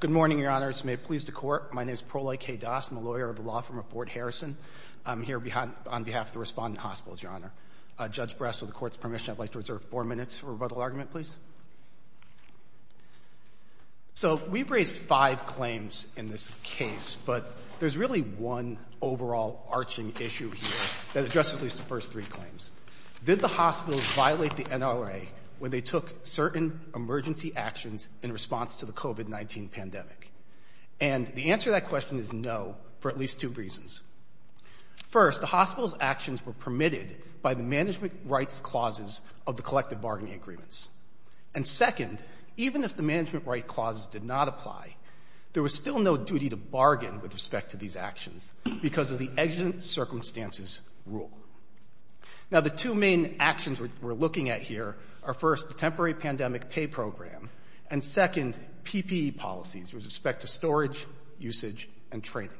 Good morning, Your Honor. It's my pleasure to court. My name is Prolai K. Das. I'm a lawyer of the law firm of Fort Harrison. I'm here on behalf of the Respondent Hospitals, Your Honor. Judge Bress, with the court's permission, I'd like to reserve four minutes for a rebuttal argument, please. So we've raised five claims in this case, but there's really one overall arching issue here that addresses at least the first three claims. Did the hospitals violate the NRA when they took certain emergency actions in response to the COVID-19 pandemic? And the answer to that question is no, for at least two reasons. First, the hospital's actions were permitted by the management rights clauses of the collective bargaining agreements. And second, even if the management right clauses did not apply, there was still no duty to bargain with respect to these actions because of the exigent circumstances rule. Now, the two main actions we're looking at here are, first, the temporary pandemic pay program, and second, PPE policies with respect to storage, usage, and training.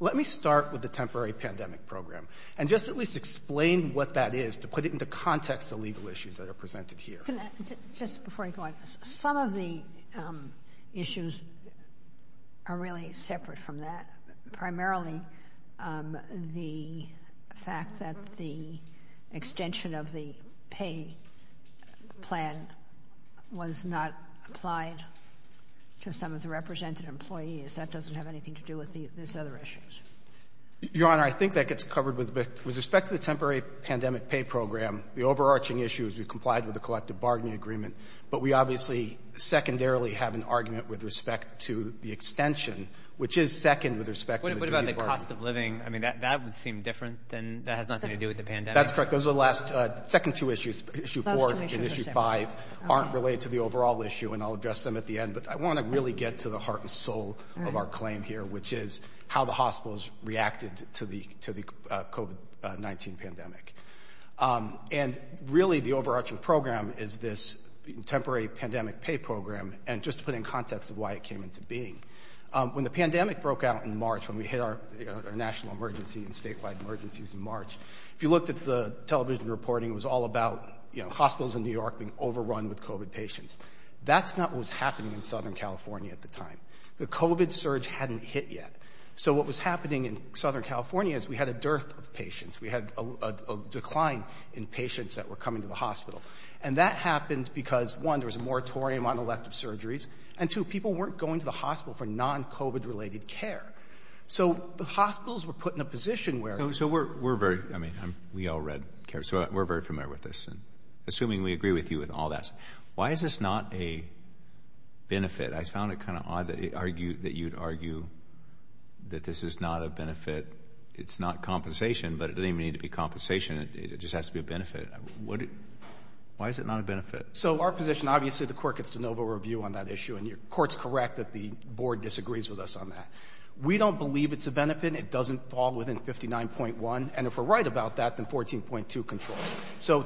Let me start with the temporary pandemic program and just at least explain what that is to put it into context of legal issues that are presented here. Just before you go on, some of the issues are really separate from that. Primarily, the fact that the extension of the pay plan was not applied to some of the represented employees, that doesn't have anything to do with these other issues. Your Honor, I think that gets covered with respect to the temporary pandemic pay program. The overarching issue is we complied with the collective bargaining agreement, but we obviously secondarily have an argument with respect to the extension, which is second with respect to the duty to bargain. What about the cost of living? I mean, that would seem different. That has nothing to do with the pandemic. That's correct. Those are the last two issues. Issue four and issue five aren't related to the overall issue, and I'll address them at the end. But I want to really get to the heart and soul of our claim here, which is how the hospitals reacted to the COVID-19 pandemic. And really, the overarching program is this temporary pandemic pay program. And just to put it in context of why it came into being, when the pandemic broke out in March, when we hit our national emergency and statewide emergencies in March, if you looked at the television reporting, it was all about hospitals in New York being overrun with COVID patients. That's not what was happening in Southern California at the time. The COVID surge hadn't hit yet. So what was happening in Southern California is we had a dearth of patients. We had a decline in patients that were coming to the hospital. And that happened because, one, there was a moratorium on elective surgeries, and two, people weren't going to the hospital for non-COVID-related care. So the hospitals were put in a position where— So we're very—I mean, we all read—so we're very familiar with this. And assuming we agree with you with all that, why is this not a benefit? I found it kind of odd that you'd argue that this is not a benefit. It's not compensation, but it doesn't even need to be compensation. It just has to be a benefit. Why is it not a benefit? So our position—obviously, the court gets de novo review on that issue, and your court's correct that the board disagrees with us on that. We don't believe it's a benefit, and it doesn't fall within 59.1. And if we're right about that, then 14.2 controls. So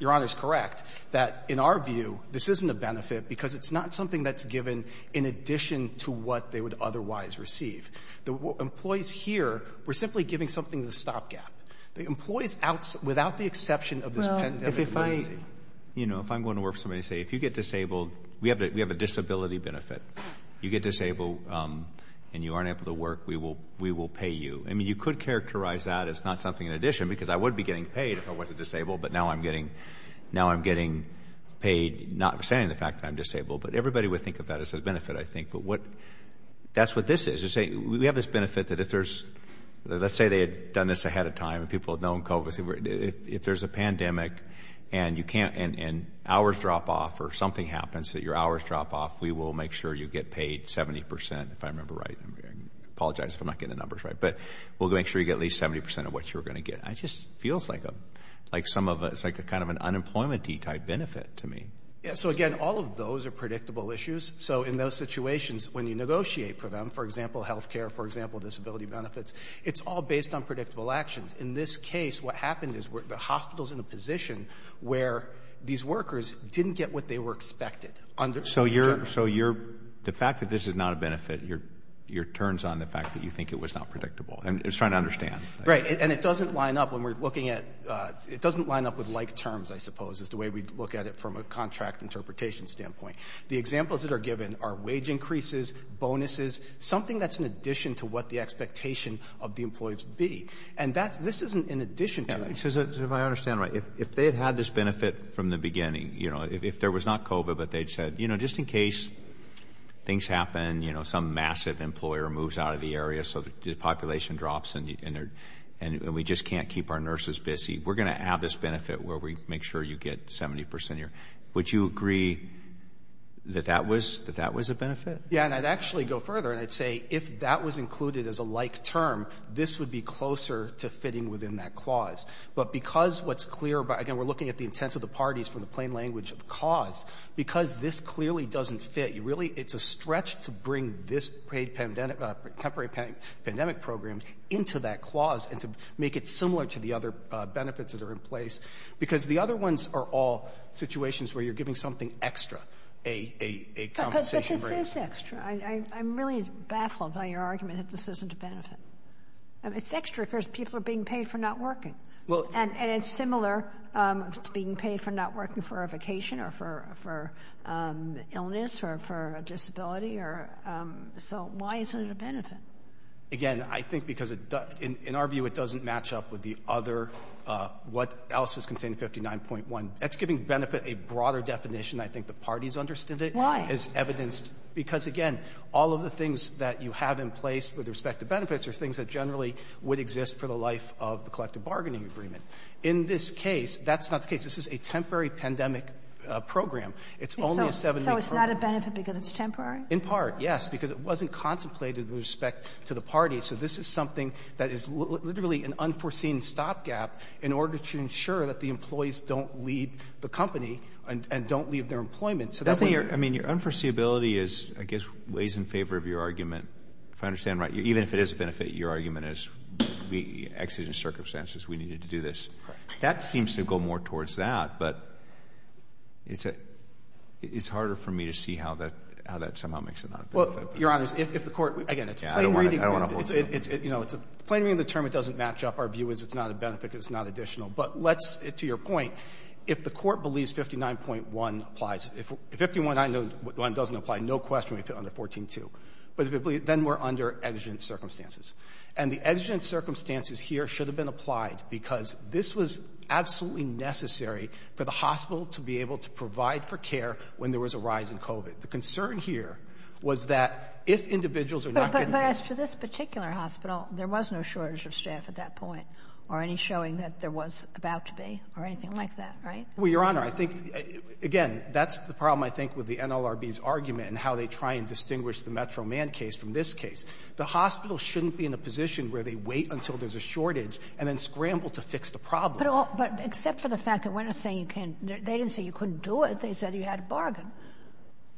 your Honor is correct that, in our view, this isn't a benefit because it's not something that's given in addition to what they would otherwise receive. The employees here were simply giving something as a stopgap. The employees, without the exception of this pandemic— Well, if I—you know, if I'm going to work for somebody and say, if you get disabled—we have a disability benefit. You get disabled and you aren't able to work, we will pay you. I mean, you could characterize that as not something in addition because I would be getting paid if I wasn't disabled, but now I'm getting paid, notwithstanding the fact that I'm disabled. But everybody would think of that as a benefit, I think. But what—that's what this is. We have this benefit that if there's—let's say they had done this ahead of time and people had known COVID. If there's a pandemic and you can't—and hours drop off or something happens that your hours drop off, we will make sure you get paid 70 percent, if I remember right. I apologize if I'm not getting the numbers right. But we'll make sure you get at least 70 percent of what you were going to get. It just feels like some of a—it's like a kind of an unemployment-y type benefit to me. So, again, all of those are predictable issues. So in those situations, when you negotiate for them, for example, health care, for example, disability benefits, it's all based on predictable actions. In this case, what happened is the hospital's in a position where these workers didn't get what they were expected. So you're—the fact that this is not a benefit, your turn's on the fact that you think it was not predictable. And it's trying to understand. Right. And it doesn't line up when we're looking at—it doesn't line up with like terms, I suppose, is the way we look at it from a contract interpretation standpoint. The examples that are given are wage increases, bonuses, something that's in addition to what the expectation of the employees would be. And that's—this isn't in addition to— So if I understand right, if they had had this benefit from the beginning, you know, if there was not COVID but they'd said, you know, just in case things happen, you know, some massive employer moves out of the area so the population drops and we just can't keep our nurses busy, we're going to have this benefit where we make sure you get 70 percent of your— would you agree that that was a benefit? Yeah. And I'd actually go further and I'd say if that was included as a like term, this would be closer to fitting within that clause. But because what's clear about—again, we're looking at the intent of the parties from the plain language of cause. Because this clearly doesn't fit. Really, it's a stretch to bring this paid pandemic—temporary pandemic program into that clause and to make it similar to the other benefits that are in place. Because the other ones are all situations where you're giving something extra, a compensation— But this is extra. I'm really baffled by your argument that this isn't a benefit. It's extra because people are being paid for not working. And it's similar to being paid for not working for a vacation or for illness or for a disability. So why isn't it a benefit? Again, I think because in our view it doesn't match up with the other what else is contained in 59.1. That's giving benefit a broader definition. I think the parties understood it. It's evidenced because, again, all of the things that you have in place with respect to benefits are things that generally would exist for the life of the collective bargaining agreement. In this case, that's not the case. This is a temporary pandemic program. It's only a seven-week program. So it's not a benefit because it's temporary? In part, yes, because it wasn't contemplated with respect to the parties. So this is something that is literally an unforeseen stopgap in order to ensure that the employees don't leave the company and don't leave their employment. So that's why you're — I mean, your unforeseeability is, I guess, weighs in favor of your argument, if I understand right. Even if it is a benefit, your argument is the exigent circumstances. We needed to do this. That seems to go more towards that. But it's harder for me to see how that somehow makes it not a benefit. Well, Your Honors, if the Court — again, it's a plain reading. I don't want to hold you up. You know, it's a plain reading of the term. It doesn't match up. Our view is it's not a benefit because it's not additional. But let's — to your point, if the Court believes 59.1 applies, if 51.9 doesn't apply, no question we'd fit under 14.2. But if it — then we're under exigent circumstances. And the exigent circumstances here should have been applied because this was absolutely necessary for the hospital to be able to provide for care when there was a rise in COVID. The concern here was that if individuals are not getting — But as to this particular hospital, there was no shortage of staff at that point or any showing that there was about to be or anything like that, right? Well, Your Honor, I think — again, that's the problem, I think, with the NLRB's argument and how they try and distinguish the Metro Man case from this case. The hospital shouldn't be in a position where they wait until there's a shortage and then scramble to fix the problem. But all — but except for the fact that we're not saying you can't — they didn't say you couldn't do it. They said you had to bargain.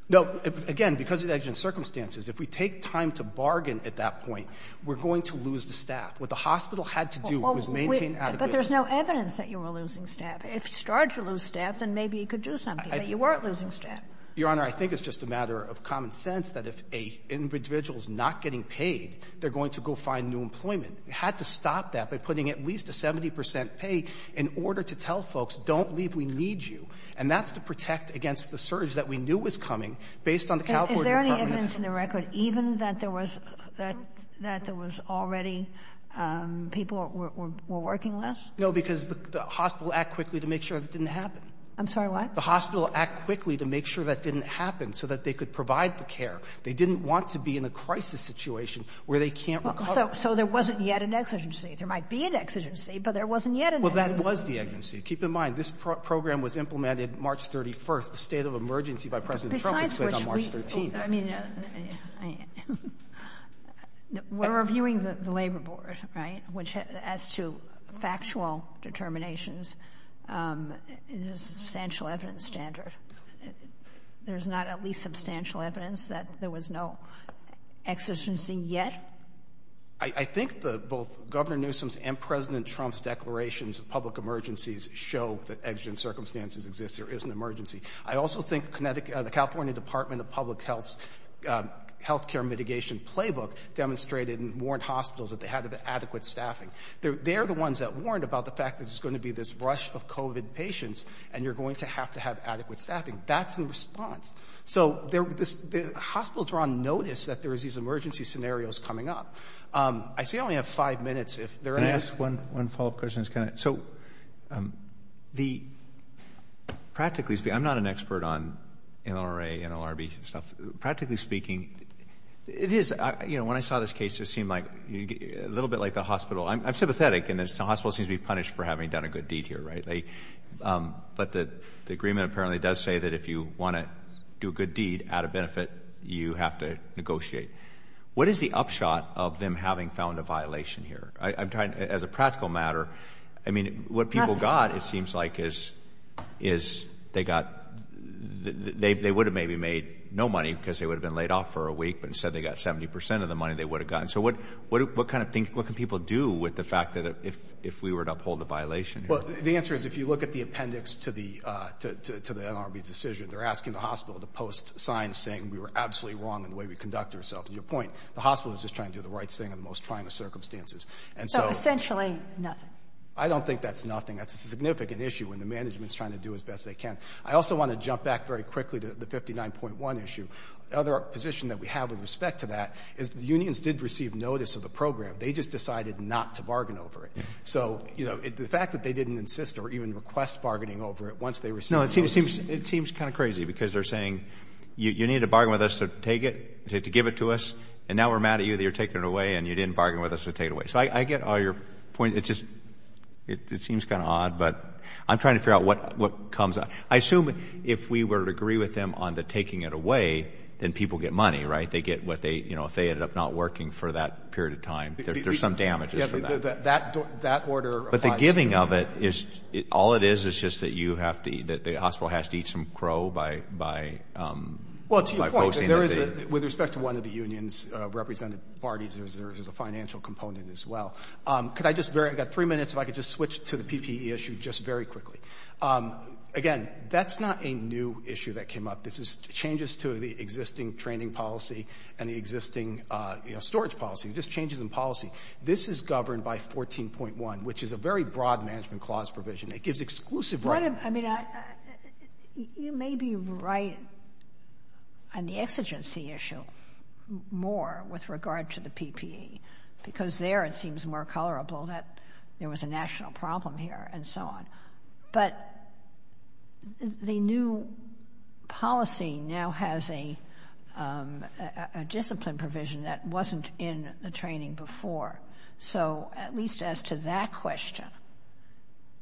No. Again, because of the exigent circumstances, if we take time to bargain at that point, we're going to lose the staff. What the hospital had to do was maintain adequate — But there's no evidence that you were losing staff. If you started to lose staff, then maybe you could do something, but you weren't losing staff. Your Honor, I think it's just a matter of common sense that if an individual is not getting paid, they're going to go find new employment. You had to stop that by putting at least a 70 percent pay in order to tell folks, don't leave, we need you. And that's to protect against the surge that we knew was coming based on the California Department of Health. Is there any evidence in the record even that there was — that there was already people who were working less? No, because the hospital acted quickly to make sure that didn't happen. I'm sorry, what? The hospital acted quickly to make sure that didn't happen so that they could provide the care. They didn't want to be in a crisis situation where they can't recover. So there wasn't yet an exigency. There might be an exigency, but there wasn't yet an exigency. Well, that was the exigency. Keep in mind, this program was implemented March 31st. The state of emergency by President Trump was put on March 13th. Besides which we — I mean, we're reviewing the Labor Board, right, which as to factual determinations, there's a substantial evidence standard. There's not at least substantial evidence that there was no exigency yet? I think both Governor Newsom's and President Trump's declarations of public emergencies show that exigent circumstances exist. There is an emergency. I also think the California Department of Public Health's healthcare mitigation playbook demonstrated and warned hospitals that they had to have adequate staffing. They're the ones that warned about the fact that there's going to be this rush of COVID patients, and you're going to have to have adequate staffing. That's the response. So the hospitals are on notice that there is these emergency scenarios coming up. I see I only have five minutes. If there are any — Can I ask one follow-up question? So the — practically speaking, I'm not an expert on NLRA, NLRB stuff. Practically speaking, it is — you know, when I saw this case, it seemed like a little bit like the hospital — I'm sympathetic in that the hospital seems to be punished for having done a good deed here, right? But the agreement apparently does say that if you want to do a good deed out of benefit, you have to negotiate. What is the upshot of them having found a violation here? I'm trying — as a practical matter, I mean, what people got, it seems like, is they got — they would have maybe made no money because they would have been laid off for a week, but instead they got 70 percent of the money they would have gotten. So what kind of thing — what can people do with the fact that if we were to uphold the violation here? Well, the answer is if you look at the appendix to the — to the NLRB decision, they're asking the hospital to post signs saying we were absolutely wrong in the way we conducted ourselves. And your point, the hospital is just trying to do the right thing in the most trying of circumstances. And so — So essentially nothing. I don't think that's nothing. That's a significant issue, and the management is trying to do as best they can. I also want to jump back very quickly to the 59.1 issue. The other position that we have with respect to that is the unions did receive notice of the program. They just decided not to bargain over it. So, you know, the fact that they didn't insist or even request bargaining over it once they received notice — No, it seems kind of crazy because they're saying you need to bargain with us to take it, to give it to us, and now we're mad at you that you're taking it away and you didn't bargain with us to take it away. So I get all your points. It's just — it seems kind of odd, but I'm trying to figure out what comes out. I assume if we were to agree with them on the taking it away, then people get money, right? They get what they — you know, if they ended up not working for that period of time, there's some damages for that. That order applies to — But the giving of it is — all it is is just that you have to — that the hospital has to eat some crow by — Well, to your point, there is a — with respect to one of the union's represented parties, there's a financial component as well. Could I just — I've got three minutes if I could just switch to the PPE issue just very quickly. Again, that's not a new issue that came up. This is changes to the existing training policy and the existing, you know, storage policy, just changes in policy. This is governed by 14.1, which is a very broad management clause provision. It gives exclusive — Well, I mean, I — you may be right on the exigency issue more with regard to the PPE because there it seems more colorable that there was a national problem here and so on. But the new policy now has a discipline provision that wasn't in the training before. So, at least as to that question,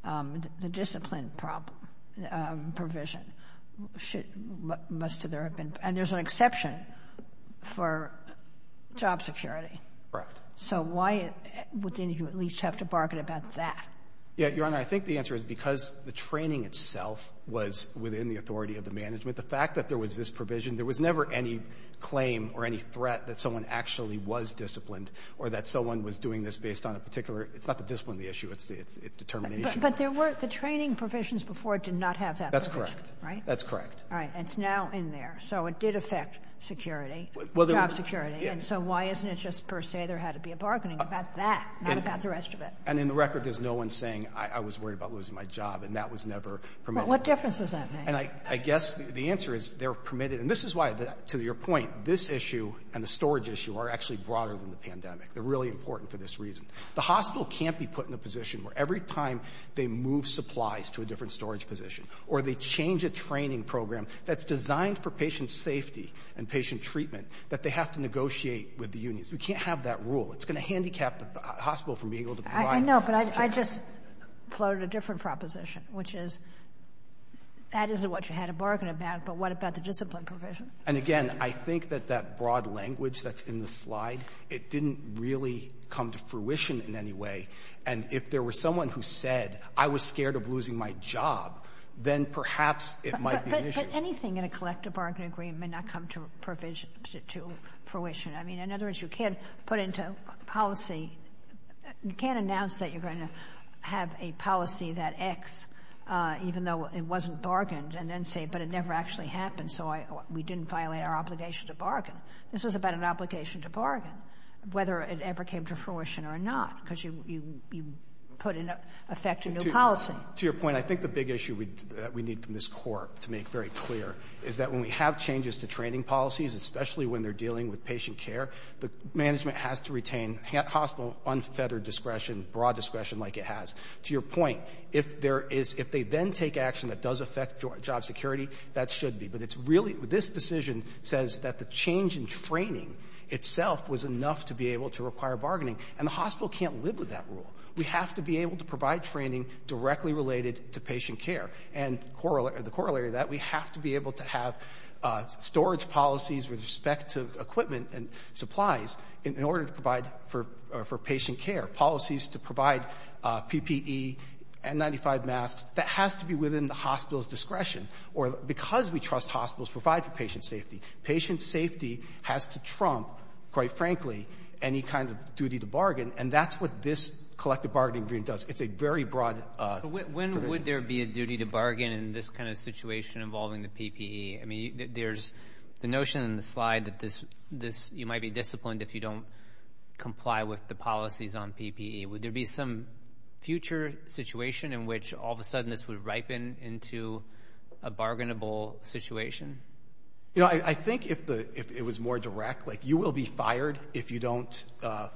the discipline provision should — must there have been — and there's an exception for job security. Correct. So, why would any of you at least have to bargain about that? Yeah, Your Honor, I think the answer is because the training itself was within the authority of the management. The fact that there was this provision, there was never any claim or any threat that someone actually was disciplined or that someone was doing this based on a particular — it's not the discipline the issue, it's determination. But there were — the training provisions before did not have that provision, right? That's correct. All right. And it's now in there. So, it did affect security, job security. And so, why isn't it just per se there had to be a bargaining about that, not about the rest of it? And in the record, there's no one saying, I was worried about losing my job, and that was never promoted. But what difference does that make? And I guess the answer is they're permitted. And this is why, to your point, this issue and the storage issue are actually broader than the pandemic. They're really important for this reason. The hospital can't be put in a position where every time they move supplies to a different storage position or they change a training program that's designed for patient safety and patient treatment that they have to negotiate with the unions. We can't have that rule. It's going to handicap the hospital from being able to provide. I know. But I just floated a different proposition, which is that isn't what you had to bargain about, but what about the discipline provision? And, again, I think that that broad language that's in the slide, it didn't really come to fruition in any way. And if there was someone who said, I was scared of losing my job, then perhaps it might be an issue. But anything in a collective bargaining agreement may not come to provision — to fruition. I mean, in other words, you can't put into policy — you can't announce that you're going to have a policy that X, even though it wasn't bargained, and then say, but it never actually happened, so we didn't violate our obligation to bargain. This is about an obligation to bargain, whether it ever came to fruition or not, because you put in effect a new policy. To your point, I think the big issue that we need from this court to make very clear is that when we have changes to training policies, especially when they're dealing with patient care, the management has to retain hospital unfettered discretion, broad discretion like it has. To your point, if there is — if they then take action that does affect job security, that should be. But it's really — this decision says that the change in training itself was enough to be able to require bargaining, and the hospital can't live with that rule. We have to be able to provide training directly related to patient care. And the corollary to that, we have to be able to have storage policies with respect to equipment and supplies in order to provide for patient care, policies to provide PPE, N95 masks. That has to be within the hospital's discretion. Or because we trust hospitals provide for patient safety, patient safety has to trump, quite frankly, any kind of duty to bargain. And that's what this collective bargaining agreement does. It's a very broad — So when would there be a duty to bargain in this kind of situation involving the PPE? I mean, there's the notion in the slide that this — you might be disciplined if you don't comply with the policies on PPE. Would there be some future situation in which all of a sudden this would ripen into a bargainable situation? You know, I think if it was more direct, like you will be fired if you don't,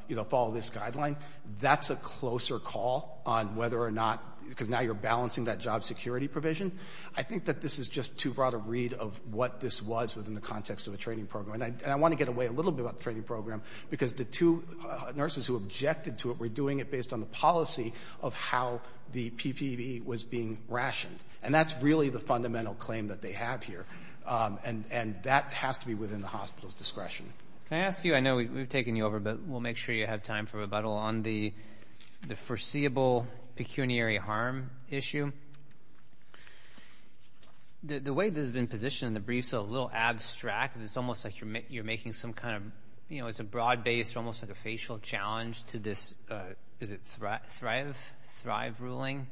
you know, follow this guideline, that's a closer call on whether or not — because now you're balancing that job security provision. I think that this is just too broad a read of what this was within the context of a training program. And I want to get away a little bit about the training program because the two nurses who objected to it were doing it based on the policy of how the PPE was being rationed. And that's really the fundamental claim that they have here. And that has to be within the hospital's discretion. Can I ask you — I know we've taken you over, but we'll make sure you have time for rebuttal on the foreseeable pecuniary harm issue. The way this has been positioned in the brief is a little abstract. It's almost like you're making some kind of — you know, it's a broad-based, almost like a facial challenge to this — is it Thrive ruling?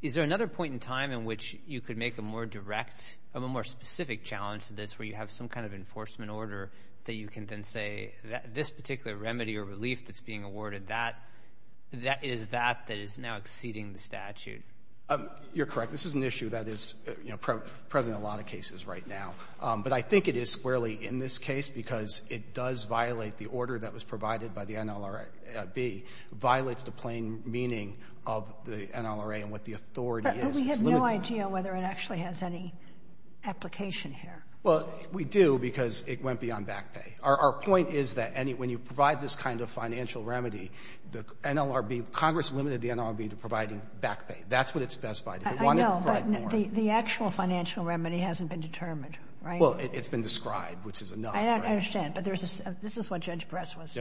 Is there another point in time in which you could make a more direct — a more specific challenge to this where you have some kind of enforcement order that you can then say that this particular remedy or relief that's being awarded, that is that that is now exceeding the statute? You're correct. This is an issue that is, you know, present in a lot of cases right now. But I think it is squarely in this case because it does violate the order that was provided by the NLRAB. It violates the plain meaning of the NLRA and what the authority is. But we have no idea whether it actually has any application here. Well, we do because it went beyond back pay. Our point is that any — when you provide this kind of financial remedy, the NLRB — Congress limited the NLRB to providing back pay. That's what it specified. It wanted to provide more. I know, but the actual financial remedy hasn't been determined, right? Well, it's been described, which is a no. I understand. But there's a — this is what Judge Press was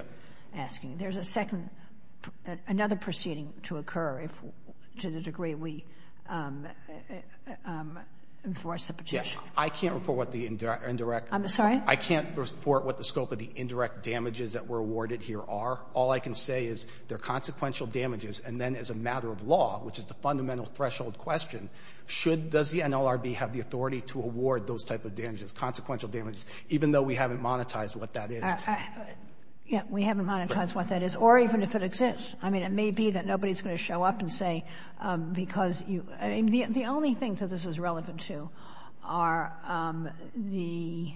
asking. There's a second — another proceeding to occur if — to the degree we enforce the petition. I can't report what the indirect — I'm sorry? I can't report what the scope of the indirect damages that were awarded here are. All I can say is they're consequential damages. And then as a matter of law, which is the fundamental threshold question, should — does the NLRB have the authority to award those type of damages, consequential damages, even though we haven't monetized what that is? Yeah, we haven't monetized what that is, or even if it exists. I mean, it may be that nobody's going to show up and say because you — I mean, the only thing that this is relevant to are the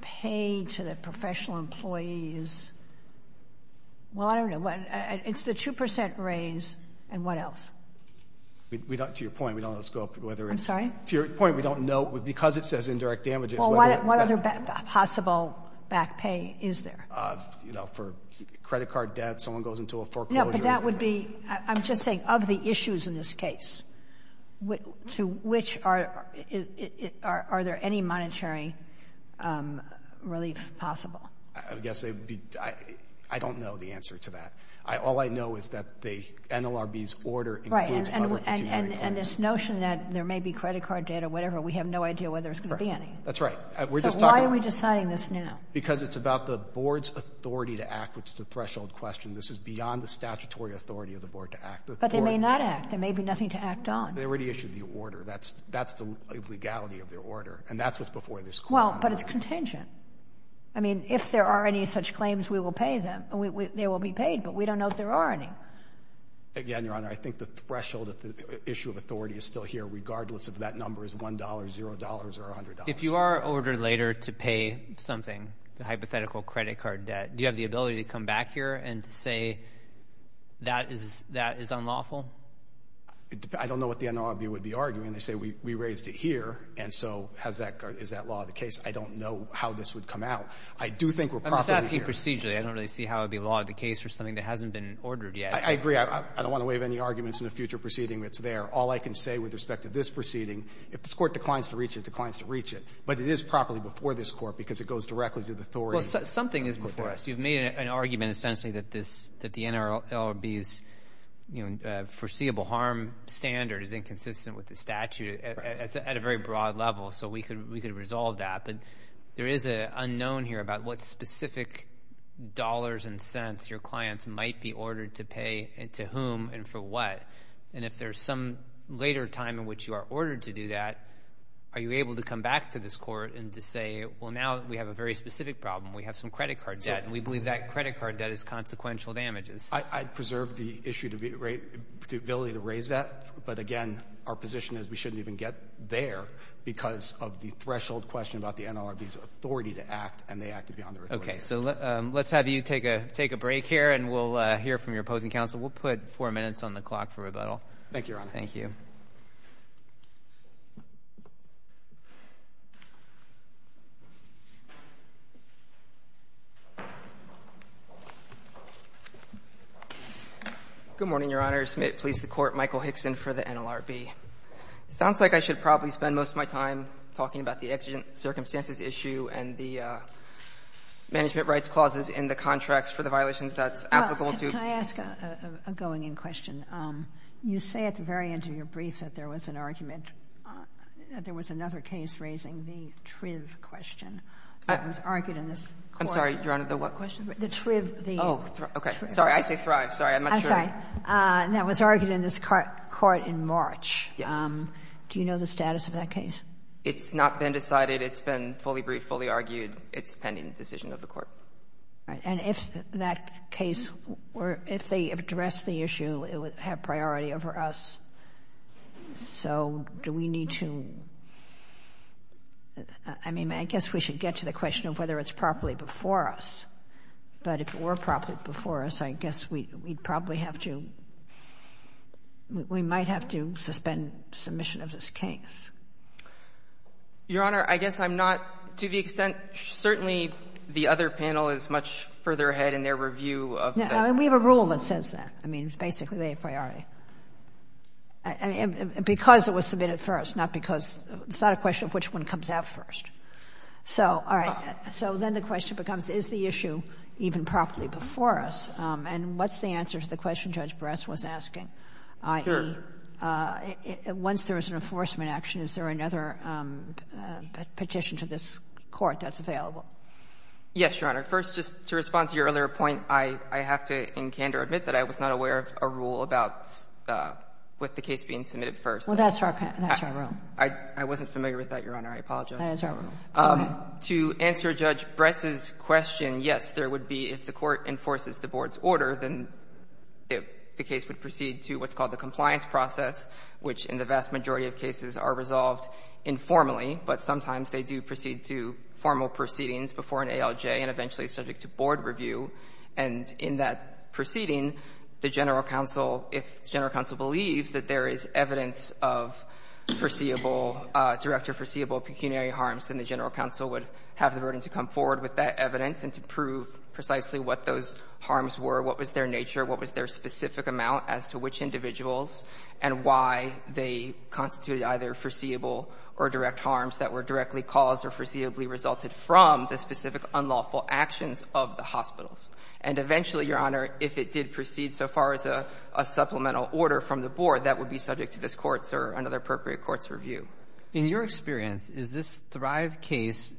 pay to the professional employees — well, I don't know. It's the 2 percent raise. And what else? We don't — to your point, we don't know the scope of whether it's — I'm sorry? To your point, we don't know, because it says indirect damages, whether — What other possible back pay is there? You know, for credit card debt, someone goes into a foreclosure — No, but that would be — I'm just saying, of the issues in this case, to which are — are there any monetary relief possible? I guess they would be — I don't know the answer to that. All I know is that the NLRB's order includes other — Right, and this notion that there may be credit card debt or whatever, we have no idea whether there's going to be any. That's right. We're just talking about — So why are we deciding this now? Because it's about the board's authority to act, which is the threshold question. This is beyond the statutory authority of the board to act. But they may not act. There may be nothing to act on. They already issued the order. That's the legality of their order. And that's what's before this Court. Well, but it's contingent. I mean, if there are any such claims, we will pay them. They will be paid, but we don't know if there are any. Again, Your Honor, I think the threshold issue of authority is still here, regardless if that number is $1, $0, or $100. If you are ordered later to pay something, the hypothetical credit card debt, do you have the ability to come back here and say that is unlawful? I don't know what the NLRB would be arguing. They say we raised it here, and so is that law of the case? I don't know how this would come out. I do think we're properly here. I'm just asking procedurally. I don't really see how it would be law of the case for something that hasn't been ordered yet. I agree. I don't want to waive any arguments in a future proceeding that's there. All I can say with respect to this proceeding, if this Court declines to reach it, declines to reach it, but it is properly before this Court because it goes directly to the authority. Well, something is before us. You've made an argument, essentially, that the NLRB's foreseeable harm standard is inconsistent with the statute at a very broad level, so we could resolve that, but there is an unknown here about what specific dollars and cents your clients might be ordered to pay and to whom and for what, and if there's some later time in which you are ordered to do that, are you able to come back to this Court and to say, well, now we have a very specific problem. We have some credit card debt, and we believe that credit card debt is consequential damages. I'd preserve the ability to raise that, but again, our position is we shouldn't even get there because of the threshold question about the NLRB's authority to act, and they acted beyond their authority. Okay. So let's have you take a break here, and we'll hear from your opposing counsel. We'll put four minutes on the clock for rebuttal. Thank you, Your Honor. Thank you. Good morning, Your Honors. May it please the Court, Michael Hickson for the NLRB. It sounds like I should probably spend most of my time talking about the exigent circumstances issue and the management rights clauses in the contracts for the violations that's applicable to the NLRB. Can I ask a going-in question? You say at the very end of your brief that there was an argument, that there was another case raising the TRIV question that was argued in this Court. I'm sorry, Your Honor. The what question? The TRIV. Oh, okay. Sorry. I say Thrive. Sorry. I'm not sure. That was argued in this Court in March. Yes. Do you know the status of that case? It's not been decided. It's been fully briefed, fully argued. It's pending decision of the Court. All right. And if that case were — if they addressed the issue, it would have priority over us. So do we need to — I mean, I guess we should get to the question of whether it's properly before us. But if it were properly before us, I guess we'd probably have to — we might have to suspend submission of this case. Your Honor, I guess I'm not — to the extent, certainly, the other panel is much further ahead in their review of that. I mean, we have a rule that says that. I mean, basically, they have priority. I mean, because it was submitted first, not because — it's not a question of which one comes out first. So, all right. So then the question becomes, is the issue even properly before us? And what's the answer to the question Judge Bress was asking, i.e., once there is an enforcement action, is there another petition to this Court that's available? Yes, Your Honor. First, just to respond to your earlier point, I have to in candor admit that I was not aware of a rule about — with the case being submitted first. Well, that's our — that's our rule. I wasn't familiar with that, Your Honor. I apologize. That is our rule. Go ahead. To answer Judge Bress's question, yes, there would be, if the Court enforces the Board's order, then the case would proceed to what's called the compliance process, which in the vast majority of cases are resolved informally. But sometimes they do proceed to formal proceedings before an ALJ and eventually subject to Board review. And in that proceeding, the general counsel, if the general counsel believes that there is evidence of foreseeable — direct or foreseeable pecuniary harms, then the general counsel would have the burden to come forward with that evidence and to prove precisely what those harms were, what was their nature, what was their specific amount as to which individuals, and why they constituted either foreseeable or direct harms that were directly caused or foreseeably resulted from the specific unlawful actions of the hospitals. And eventually, Your Honor, if it did proceed so far as a — a supplemental order from the Board, that would be subject to this Court's or another appropriate Court's review. In your experience, is this Thrive case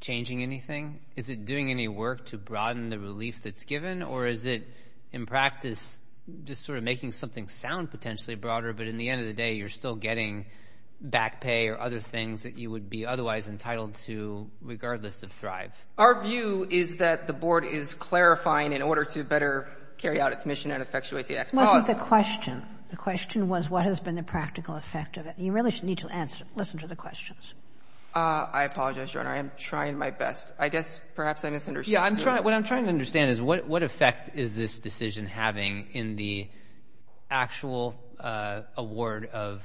changing anything? Is it doing any work to broaden the relief that's given? Or is it, in practice, just sort of making something sound potentially broader, but in the end of the day you're still getting back pay or other things that you would be otherwise entitled to regardless of Thrive? Our view is that the Board is clarifying in order to better carry out its mission and effectuate the Act's policy. Wasn't the question. The question was what has been the practical effect of it. You really need to answer, listen to the questions. I apologize, Your Honor. I am trying my best. I guess perhaps I misunderstood. What I'm trying to understand is what effect is this decision having in the actual award of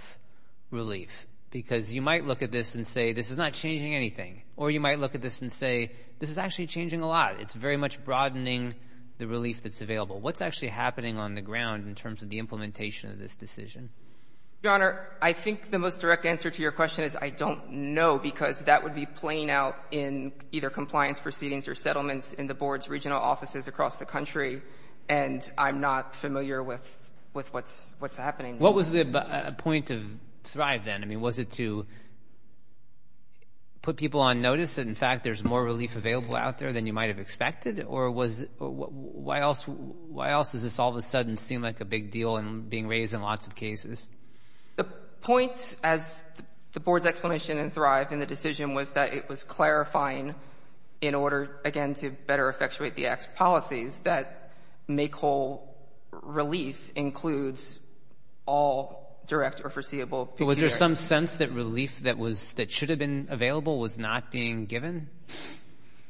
relief? Because you might look at this and say this is not changing anything. Or you might look at this and say this is actually changing a lot. It's very much broadening the relief that's available. What's actually happening on the ground in terms of the implementation of this decision? Your Honor, I think the most direct answer to your question is I don't know because that would be playing out in either compliance proceedings or settlements in the Board's regional offices across the country. And I'm not familiar with what's happening. What was the point of Thrive then? I mean, was it to put people on notice that, in fact, there's more relief available out there than you might have expected? Or why else does this all of a sudden seem like a big deal and being raised in lots of cases? The point, as the Board's explanation in Thrive in the decision, was that it was clarifying in order, again, to better effectuate the Act's policies, that make whole relief includes all direct or foreseeable. But was there some sense that relief that was — that should have been available was not being given?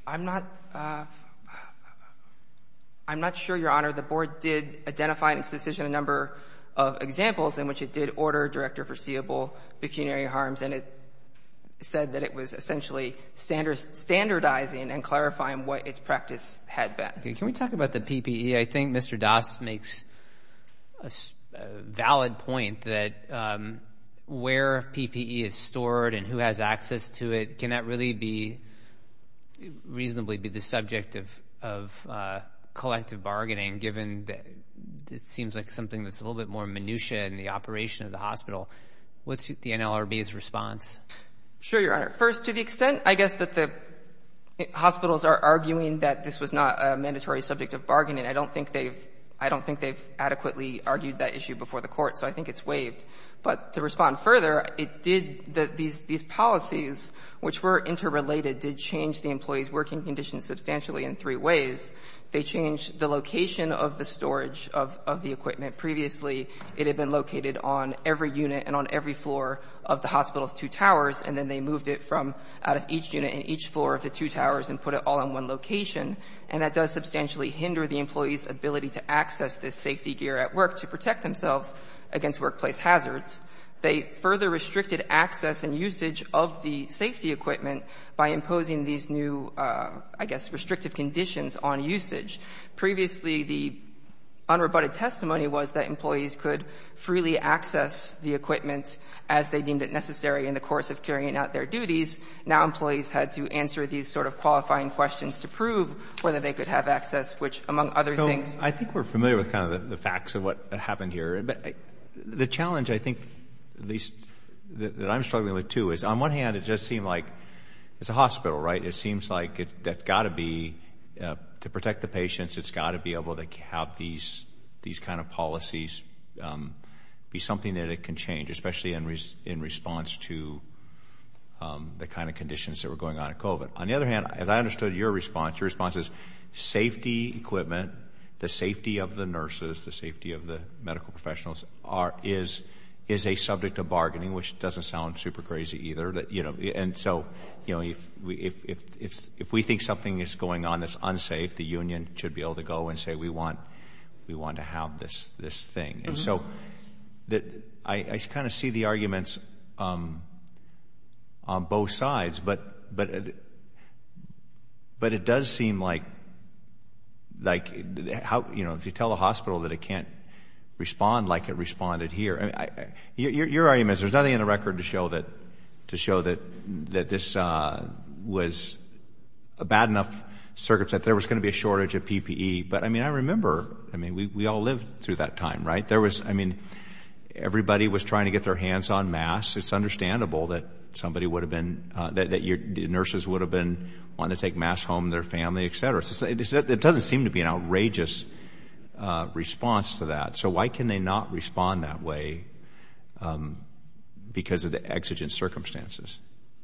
I'm not — I'm not sure, Your Honor. The Board did identify in its decision a number of examples in which it did order direct or foreseeable pecuniary harms. And it said that it was essentially standardizing and clarifying what its practice had been. Okay. Can we talk about the PPE? I think Mr. Das makes a valid point that where PPE is stored and who has access to it, can that really be — reasonably be the subject of collective bargaining, given that it seems like something that's a little bit more minutiae in the operation of the hospital? What's the NLRB's response? Sure, Your Honor. First, to the extent, I guess, that the hospitals are arguing that this was not a mandatory subject of bargaining, I don't think they've — I don't think they've adequately argued that issue before the Court. So I think it's waived. But to respond further, it did — these policies, which were interrelated, did change the employees' working conditions substantially in three ways. They changed the location of the storage of the equipment. Previously, it had been located on every unit and on every floor of the hospital's two towers, and then they moved it from out of each unit in each floor of the two towers and put it all in one location. And that does substantially hinder the employees' ability to access this safety gear at work to protect themselves against workplace hazards. They further restricted access and usage of the safety equipment by imposing these new, I guess, restrictive conditions on usage. Previously, the unrebutted testimony was that employees could freely access the equipment as they deemed it necessary in the course of carrying out their duties. Now employees had to answer these sort of qualifying questions to prove whether they could have access, which, among other things — I think we're familiar with kind of the facts of what happened here. The challenge, I think, that I'm struggling with, too, is on one hand, it just seemed like it's a hospital, right? It seems like it's got to be — to protect the patients, it's got to be able to have these kind of policies be something that it can change, especially in response to the kind of conditions that were going on at COVID. On the other hand, as I understood your response, your response is safety equipment, the safety of the nurses, the safety of the medical professionals is a subject of bargaining, which doesn't sound super crazy either. And so, you know, if we think something is going on that's unsafe, the union should be able to go and say we want to have this thing. And so I kind of see the arguments on both sides, but it does seem like, you know, if you tell a hospital that it can't respond like it responded here — your argument is there's nothing in the record to show that this was a bad enough circumstance. There was going to be a shortage of PPE, but I mean, I remember, I mean, we all lived through that time, right? There was, I mean, everybody was trying to get their hands on masks. It's understandable that somebody would have been — that your nurses would have been wanting to take masks home to their family, et cetera. It doesn't seem to be an outrageous response to that. So why can they not respond that way because of the exigent circumstances?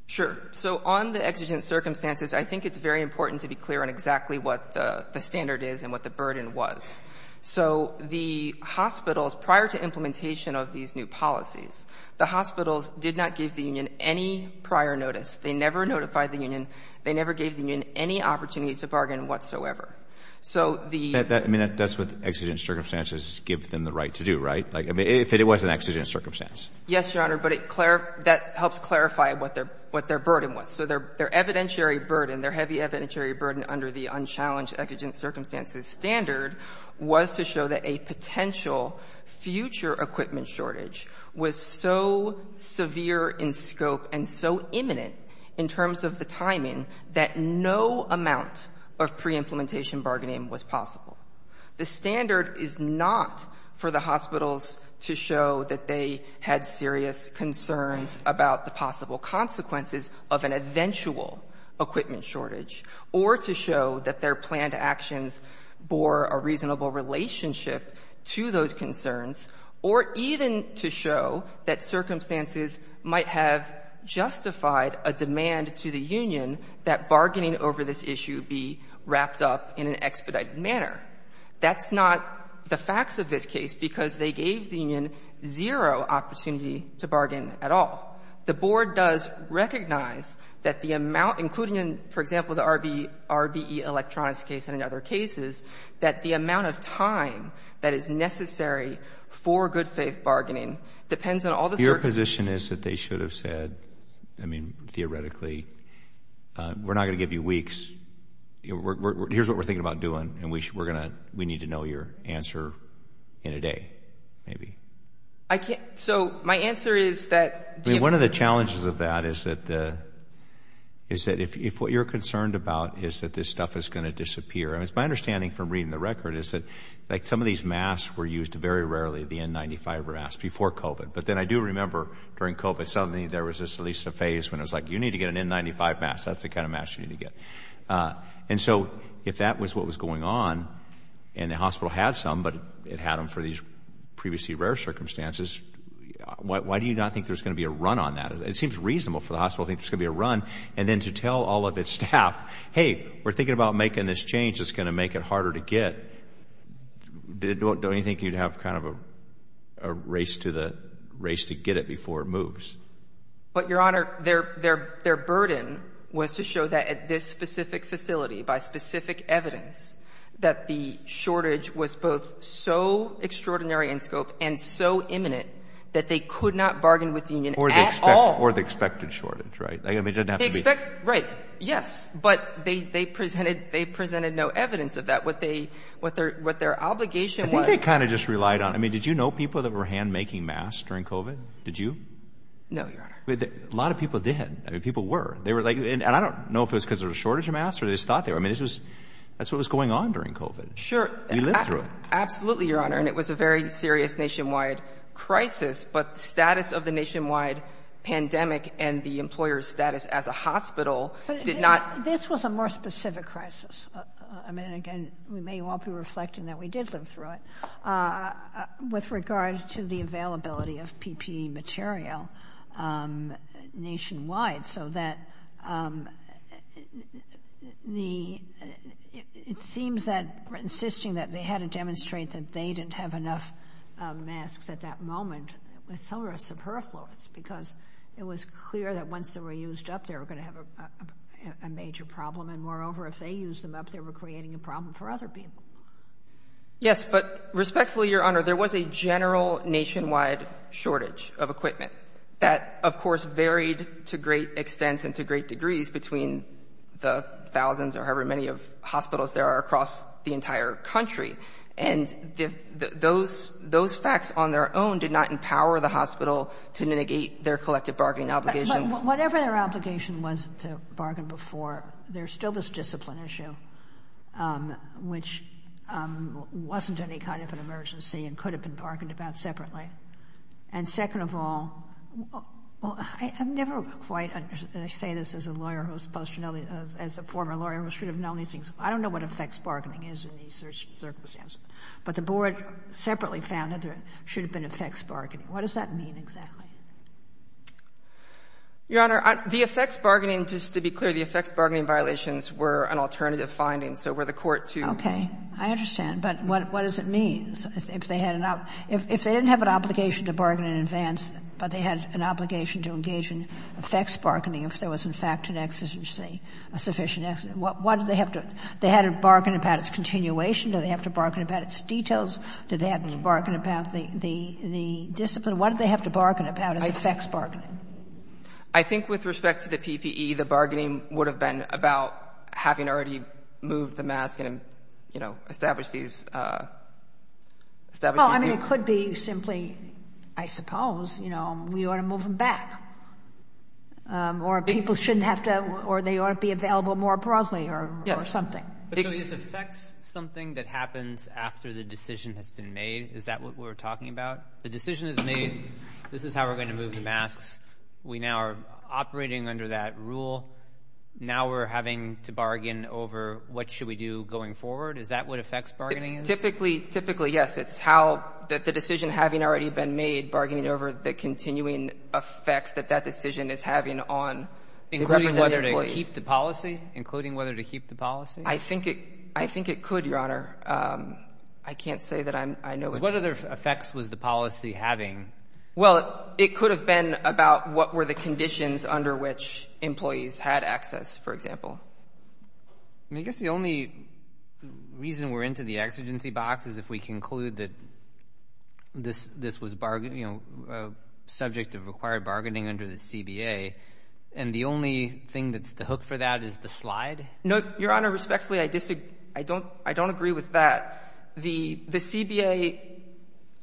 Sure. So on the exigent circumstances, I think it's very important to be clear on exactly what the standard is and what the burden was. So the hospitals, prior to implementation of these new policies, the hospitals did not give the union any prior notice. They never notified the union. They never gave the union any opportunity to bargain whatsoever. So the — I mean, that's what exigent circumstances give them the right to do, right? I mean, if it was an exigent circumstance. Yes, Your Honor, but it — that helps clarify what their burden was. So their evidentiary burden, their heavy evidentiary burden under the unchallenged exigent circumstances standard was to show that a potential future equipment shortage was so severe in scope and so imminent in terms of the timing that no amount of pre-implementation bargaining was possible. The standard is not for the hospitals to show that they had serious concerns about the possible consequences of an eventual equipment shortage or to show that their planned actions bore a reasonable relationship to those concerns, or even to show that circumstances might have justified a demand to the union that bargaining over this issue be wrapped up in an expedited manner. That's not the facts of this case, because they gave the union zero opportunity to bargain at all. The board does recognize that the amount, including in, for example, the RBE electronics case and in other cases, that the amount of time that is necessary for good-faith bargaining depends on all the circumstances. Your position is that they should have said, I mean, theoretically, we're not going to give you weeks. Here's what we're thinking about doing, and we're going to — we need to know your answer in a day, maybe. I can't. So my answer is that — I mean, one of the challenges of that is that if what you're concerned about is that this stuff is going to disappear, and it's my understanding from reading the record is that some of these masks were used very rarely, the N95 masks, before COVID. But then I do remember during COVID, suddenly there was at least a phase when it was like, you need to get an N95 mask. That's the kind of mask you need to get. And so if that was what was going on, and the hospital had some, but it had them for these previously rare circumstances, why do you not think there's going to be a run on that? It seems reasonable for the hospital to think there's going to be a run. And then to tell all of its staff, hey, we're thinking about making this change that's going to make it harder to get, don't you think you'd have kind of a race to get it before it moves? But, Your Honor, their burden was to show that at this specific facility, by specific evidence, that the shortage was both so extraordinary in scope and so imminent that they could not bargain with the union at all. Or the expected shortage, right? Right. Yes. But they presented no evidence of that. What their obligation was... I think they kind of just relied on... I mean, did you know people that were hand-making masks during COVID? Did you? No, Your Honor. A lot of people did. I mean, people were. And I don't know if it was because there was a shortage of masks or they just thought they were. I mean, this was... That's what was going on during COVID. Sure. We lived through it. Absolutely, Your Honor. And it was a very serious nationwide crisis. But the status of the nationwide pandemic and the employer's status as a hospital did not... This was a more specific crisis. I mean, again, we may all be reflecting that we did live through it. With regard to the availability of PPE material nationwide, so that the... It seems that... Insisting that they had to demonstrate that they didn't have enough masks at that moment was sort of superfluous because it was clear that once they were used up, they were going to have a major problem. And moreover, if they used them up, they were creating a problem for other people. Yes. But respectfully, Your Honor, there was a general nationwide shortage of equipment that, of course, varied to great extents and to great degrees between the thousands or however many hospitals there are across the entire country. And those facts on their own did not empower the hospital to mitigate their collective bargaining obligations. But whatever their obligation was to bargain before, there's still this discipline issue, which wasn't any kind of an emergency and could have been bargained about separately. And second of all, I've never quite understood... I say this as a lawyer who's post... As a former lawyer who should have known these things. I don't know what effects bargaining is in these circumstances. But the board separately found that there should have been effects bargaining. What does that mean exactly? Your Honor, the effects bargaining, just to be clear, the effects bargaining violations were an alternative finding, so were the court to... I understand. But what does it mean? If they had an ob... If they didn't have an obligation to bargain in advance, but they had an obligation to engage in effects bargaining, if there was, in fact, an exigency, a sufficient exigency, what did they have to... They had to bargain about its continuation. Did they have to bargain about its details? Did they have to bargain about the discipline? What did they have to bargain about as effects bargaining? I think with respect to the PPE, the bargaining would have been about having already moved the mask and, you know, established these... Well, I mean, it could be simply, I suppose, you know, we ought to move them back. Or people shouldn't have to... Or they ought to be available more broadly or something. So this affects something that happens after the decision has been made? Is that what we're talking about? The decision is made. This is how we're going to move the masks. We now are operating under that rule. Now we're having to bargain over what should we do going forward. Is that what effects bargaining is? Typically, yes. It's how... The decision having already been made, bargaining over the continuing effects that that decision is having on... Including whether to keep the policy? Including whether to keep the policy? I think it could, Your Honor. I can't say that I know... Because what other effects was the policy having? Well, it could have been about what were the conditions under which employees had access, for example. I mean, I guess the only reason we're into the exigency box is if we conclude that this was, you know, a subject of required bargaining under the CBA, and the only thing that's the hook for that is the slide? No, Your Honor, respectfully, I disagree. I don't agree with that. The CBA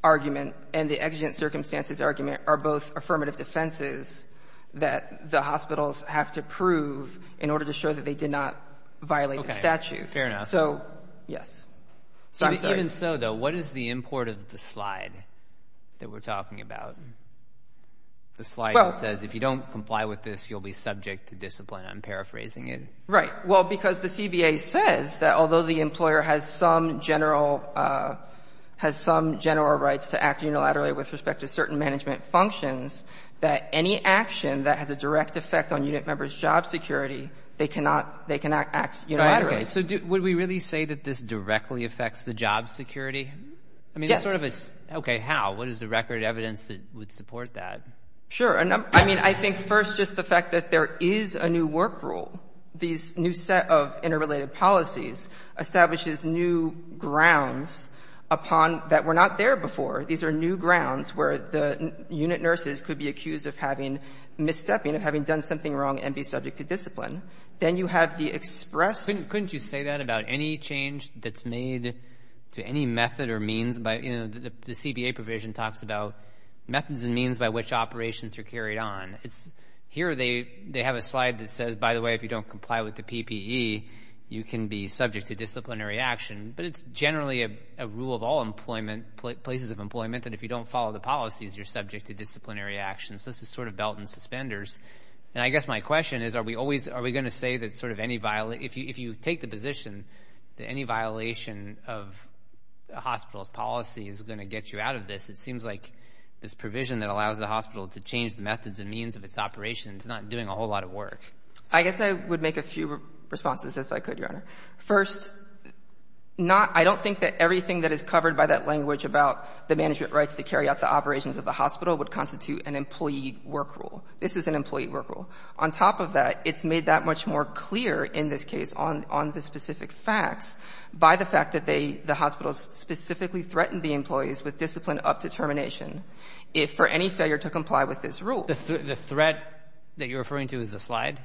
argument and the exigent circumstances argument are both affirmative defenses that the hospitals have to prove in order to show that they did not violate the statute. Okay, fair enough. So, yes. Even so, though, what is the import of the slide that we're talking about? The slide that says, if you don't comply with this, you'll be subject to discipline. I'm paraphrasing it. Right, well, because the CBA says that although the employer has some general rights to act unilaterally with respect to certain management functions, that any action that has a direct effect on unit members' job security, they cannot act unilaterally. Right, okay. So would we really say that this directly affects the job security? Yes. Okay, how? What is the record evidence that would support that? Sure. I mean, I think first just the fact that there is a new work rule, these new set of interrelated policies, establishes new grounds upon that were not there before. These are new grounds where the unit nurses could be accused of having misstepping, of having done something wrong and be subject to discipline. Then you have the express. Couldn't you say that about any change that's made to any method or means by, you know, the CBA provision talks about methods and means by which operations are carried on. Here they have a slide that says, by the way, if you don't comply with the PPE, you can be subject to disciplinary action. But it's generally a rule of all employment, places of employment, that if you don't follow the policies, you're subject to disciplinary actions. This is sort of belt and suspenders. And I guess my question is, are we going to say that sort of any, if you take the position that any violation of a hospital's policy is going to get you out of this, it seems like this provision that allows the hospital to change the methods and means of its operations is not doing a whole lot of work. I guess I would make a few responses, if I could, Your Honor. First, not — I don't think that everything that is covered by that language about the management rights to carry out the operations of the hospital would constitute an employee work rule. This is an employee work rule. On top of that, it's made that much more clear in this case on the specific facts by the fact that they — the hospitals specifically threatened the employees with discipline up to termination if for any failure to comply with this rule. The threat that you're referring to is the slide?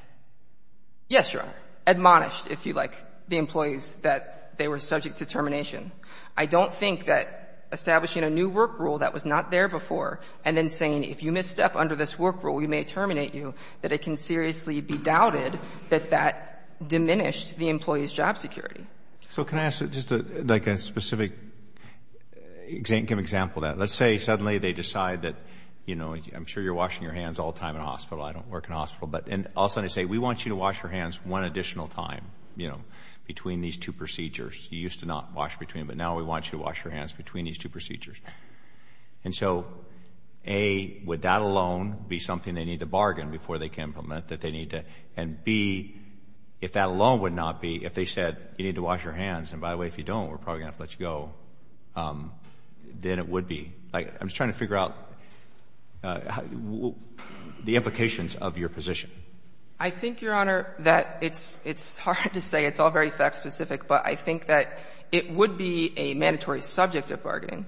Yes, Your Honor. Admonished, if you like, the employees that they were subject to termination. I don't think that establishing a new work rule that was not there before and then saying if you misstep under this work rule, we may terminate you, that it can seriously be doubted that that diminished the employee's job security. So can I ask just like a specific example of that? Let's say suddenly they decide that, you know, I'm sure you're washing your hands all the time in a hospital. I don't work in a hospital. And all of a sudden they say, we want you to wash your hands one additional time, you know, between these two procedures. You used to not wash between them, but now we want you to wash your hands between these two procedures. And so, A, would that alone be something they need to bargain before they can implement, that they need to — and, B, if that alone would not be, if they said you need to wash your hands and, by the way, if you don't, we're probably going to have to let you go, then it would be. Like, I'm just trying to figure out the implications of your position. I think, Your Honor, that it's hard to say. It's all very fact specific. But I think that it would be a mandatory subject of bargaining.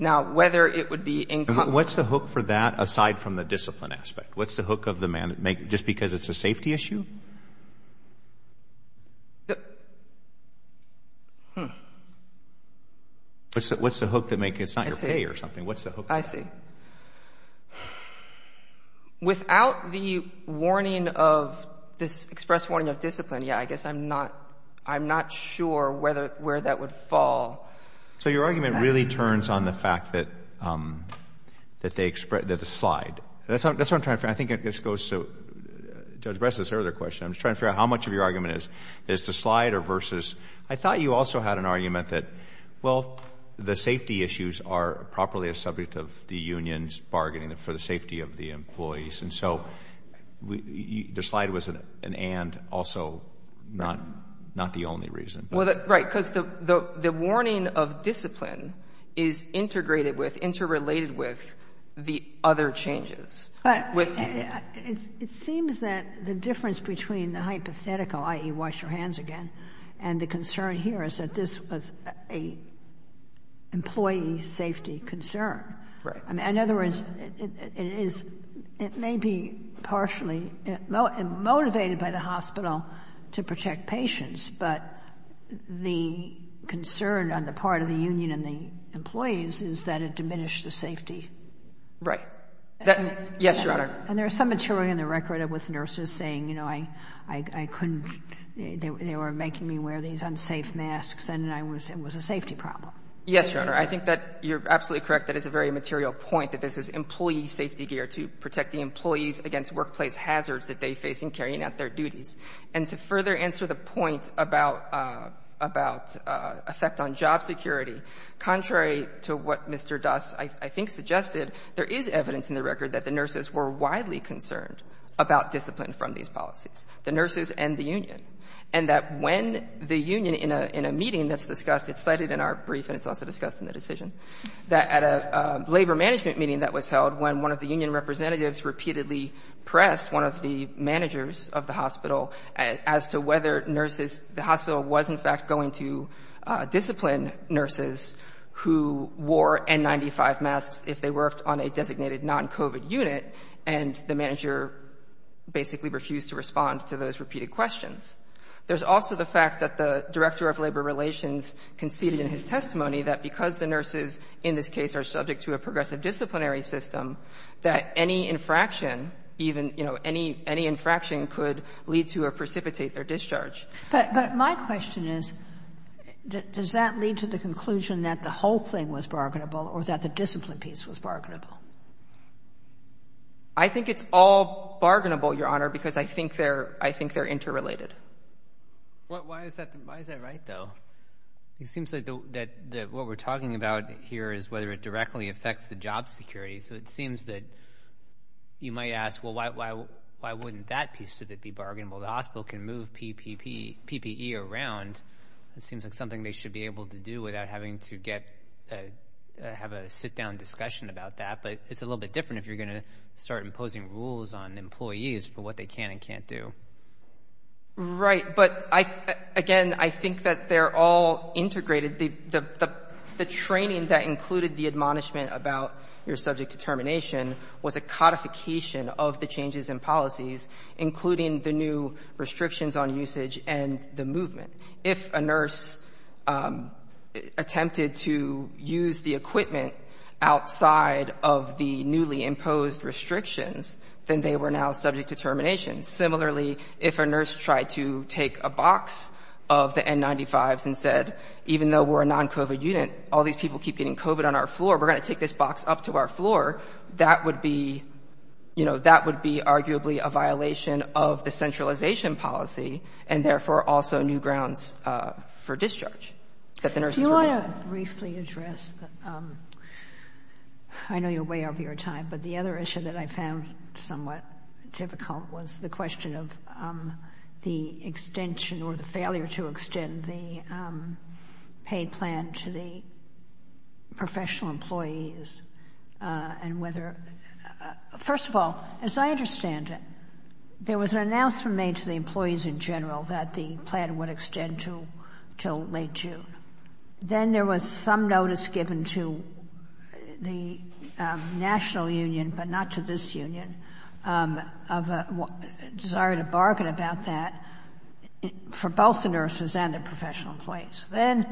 Now, whether it would be in — What's the hook for that aside from the discipline aspect? What's the hook of the — just because it's a safety issue? What's the hook that makes it — it's not your pay or something. I see. What's the hook? I see. Without the warning of — this express warning of discipline, yeah, I guess I'm not — I'm not sure where that would fall. So your argument really turns on the fact that the slide — That's what I'm trying to figure out. I think this goes to Judge Bress's earlier question. I'm just trying to figure out how much of your argument is the slide or versus — I thought you also had an argument that, well, the safety issues are properly a subject of the union's bargaining for the safety of the employees. And so the slide was an and, also, not the only reason. Well, right, because the warning of discipline is integrated with, interrelated with the other changes. But it seems that the difference between the hypothetical, i.e., wash your hands again, and the concern here is that this was a employee safety concern. Right. In other words, it is — it may be partially motivated by the hospital to protect patients, but the concern on the part of the union and the employees is that it diminished the safety. Yes, Your Honor. And there's some material in the record with nurses saying, you know, I couldn't — they were making me wear these unsafe masks, and it was a safety problem. Yes, Your Honor. I think that you're absolutely correct. That is a very material point, that this is employee safety gear to protect the employees against workplace hazards that they face in carrying out their duties. And to further answer the point about — about effect on job security, contrary to what Mr. Doss, I think, suggested, there is evidence in the record that the nurses were widely concerned about discipline from these policies, the nurses and the union. And that when the union, in a meeting that's discussed, it's cited in our brief and it's also discussed in the decision, that at a labor management meeting that was held when one of the union representatives repeatedly pressed one of the managers of the hospital as to whether nurses — the hospital was, in fact, going to discipline nurses who wore N95 masks if they worked on a designated non-COVID unit, and the manager basically refused to respond to those repeated questions. There's also the fact that the director of labor relations conceded in his testimony that because the nurses in this case are subject to a progressive disciplinary system, that any infraction even, you know, any — any infraction could lead to or precipitate their discharge. But my question is, does that lead to the conclusion that the whole thing was bargainable or that the discipline piece was bargainable? I think it's all bargainable, Your Honor, because I think they're — I think they're interrelated. Why is that — why is that right, though? It seems that what we're talking about here is whether it directly affects the job security. So it seems that you might ask, well, why wouldn't that piece of it be bargainable? The hospital can move PPE around. It seems like something they should be able to do without having to get — have a sit-down discussion about that. But it's a little bit different if you're going to start imposing rules on employees for what they can and can't do. Right. But I — again, I think that they're all integrated. The — the training that included the admonishment about your subject determination was a codification of the changes in policies, including the new restrictions on usage and the movement. If a nurse attempted to use the equipment outside of the newly imposed restrictions, then they were now subject to termination. Similarly, if a nurse tried to take a box of the N95s and said, even though we're a non-COVID unit, all these people keep getting COVID on our floor. We're going to take this box up to our floor. That would be — you know, that would be arguably a violation of the centralization policy, and therefore also new grounds for discharge. Do you want to briefly address — I know you're way over your time, but the other issue that I found somewhat difficult was the question of the extension or the failure to extend the paid plan to the professional employees and whether — first of all, as I understand it, there was an announcement made to the employees in general that the plan would extend to — till late June. Then there was some notice given to the national union, but not to this union, of a desire to bargain about that for both the nurses and the professional employees. Then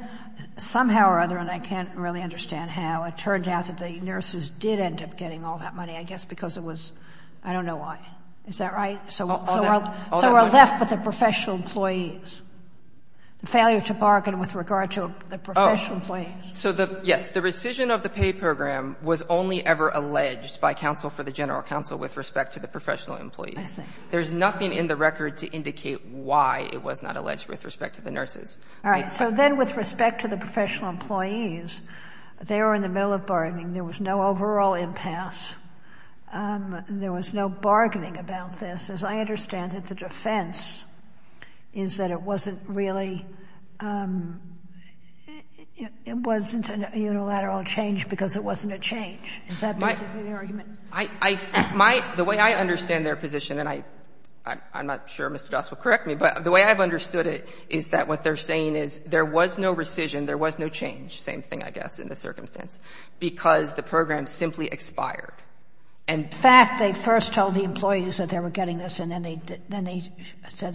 somehow or other, and I can't really understand how, it turned out that the nurses did end up getting all that money, I guess because it was — I don't know why. Is that right? So we're left with the professional employees. The failure to bargain with regard to the professional employees. So the — yes. The rescission of the paid program was only ever alleged by counsel for the general counsel with respect to the professional employees. I see. There's nothing in the record to indicate why it was not alleged with respect to the nurses. All right. So then with respect to the professional employees, they were in the middle of bargaining. There was no overall impasse. There was no bargaining about this. As I understand it, the defense is that it wasn't really — it wasn't a unilateral change because it wasn't a change. Is that basically the argument? I — my — the way I understand their position, and I'm not sure Mr. Doss will correct me, but the way I've understood it is that what they're saying is there was no rescission, there was no change. Same thing, I guess, in this circumstance, because the program simply expired. And — In fact, they first told the employees that they were getting this, and then they said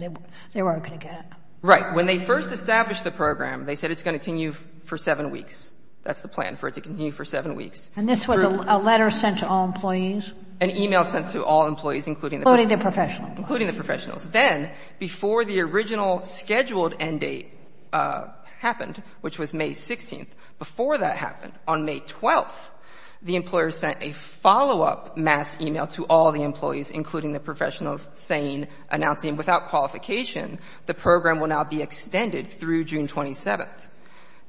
they weren't going to get it. Right. When they first established the program, they said it's going to continue for 7 weeks. That's the plan, for it to continue for 7 weeks. And this was a letter sent to all employees? An email sent to all employees, including the — Including the professional employees. Including the professionals. Then, before the original scheduled end date happened, which was May 16th, before that happened, on May 12th, the employers sent a follow-up mass email to all the employees, including the professionals, saying, announcing without qualification the program will now be extended through June 27th.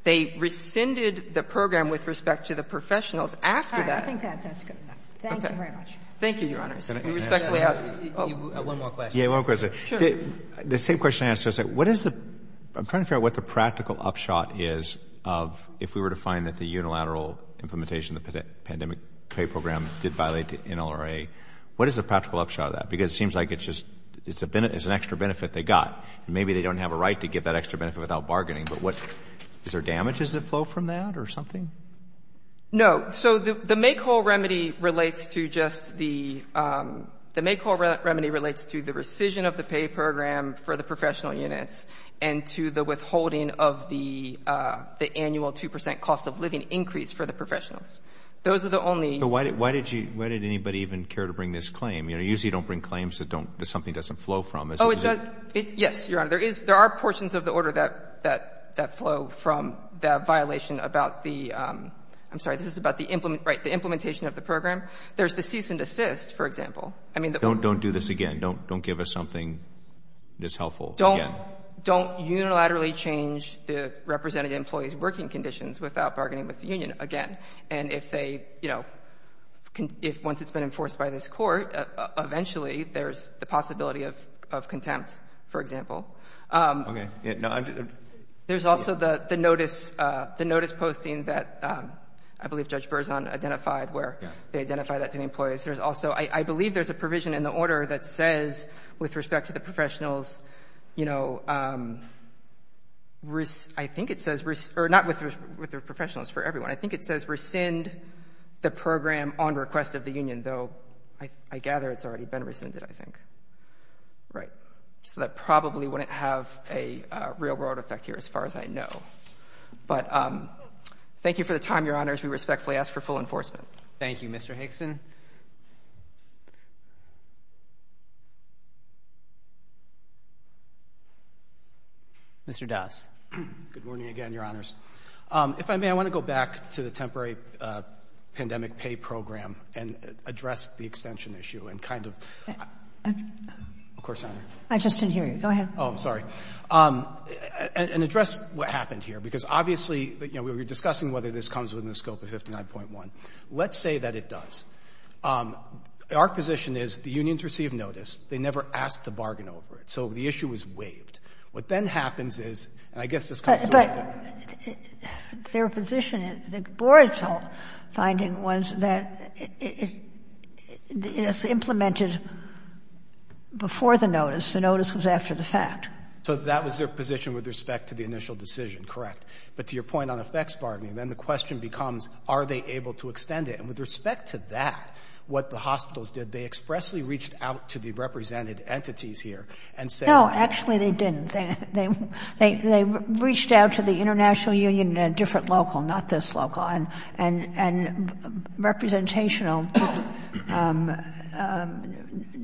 They rescinded the program with respect to the professionals. After that — I think that's as good as that. Thank you very much. Thank you, Your Honors. I respectfully ask — One more question. Yeah, one more question. Sure. The same question I asked yesterday, what is the — I'm trying to figure out what the practical upshot is of — if we were to find that the unilateral implementation of the pandemic pay program did violate the NLRA, what is the practical upshot of that? Because it seems like it's just — it's an extra benefit they got. And maybe they don't have a right to give that extra benefit without bargaining, but what — is there damages that flow from that or something? No. So the make-all remedy relates to just the — the make-all remedy relates to the rescission of the pay program for the professional units and to the withholding of the annual 2 percent cost-of-living increase for the professionals. Those are the only — But why did you — why did anybody even care to bring this claim? You know, you usually don't bring claims that don't — that something doesn't flow from. Oh, it doesn't. Yes, Your Honor. There is — there are portions of the order that flow from the violation about the — I'm sorry, this is about the — right, the implementation of the program. There's the cease and desist, for example. I mean, the — Don't do this again. Don't give us something that's helpful again. Don't unilaterally change the representative employee's working conditions without bargaining with the union again. And if they, you know — if once it's been enforced by this Court, eventually there's the possibility of contempt, for example. Okay. No, I'm just — There's also the notice — the notice posting that I believe Judge Berzon identified where they identified that to the employees. There's also — I believe there's a provision in the order that says with respect to the professionals, you know, I think it says — or not with the professionals, for everyone. I think it says rescind the program on request of the union, though I gather it's already been rescinded, I think. So that probably wouldn't have a real-world effect here as far as I know. But thank you for the time, Your Honors. We respectfully ask for full enforcement. Thank you, Mr. Hickson. Mr. Das. Good morning again, Your Honors. If I may, I want to go back to the temporary pandemic pay program and address the extension issue and kind of — Of course, Your Honor. I just didn't hear you. Go ahead. Oh, I'm sorry. And address what happened here, because obviously, you know, we were discussing whether this comes within the scope of 59.1. Let's say that it does. Our position is the unions receive notice. They never ask the bargain over it. So the issue is waived. What then happens is — and I guess this comes to — But their position, the board's finding was that it is implemented before the notice. The notice was after the fact. So that was their position with respect to the initial decision, correct. But to your point on effects bargaining, then the question becomes, are they able to extend it? And with respect to that, what the hospitals did, they expressly reached out to the represented entities here and said — Actually, they didn't. They reached out to the international union at a different local, not this local. And representational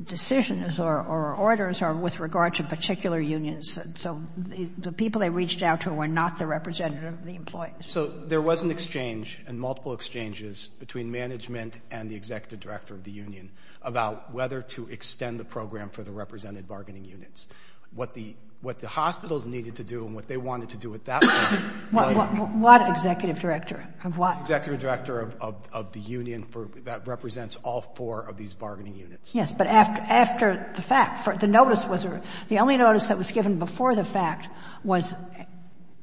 decisions or orders are with regard to particular unions. So the people they reached out to were not the representative of the employees. So there was an exchange and multiple exchanges between management and the executive director of the union about whether to extend the program for the represented bargaining units. What the hospitals needed to do and what they wanted to do with that was — What executive director of what? Executive director of the union that represents all four of these bargaining units. Yes. But after the fact, the notice was — the only notice that was given before the fact was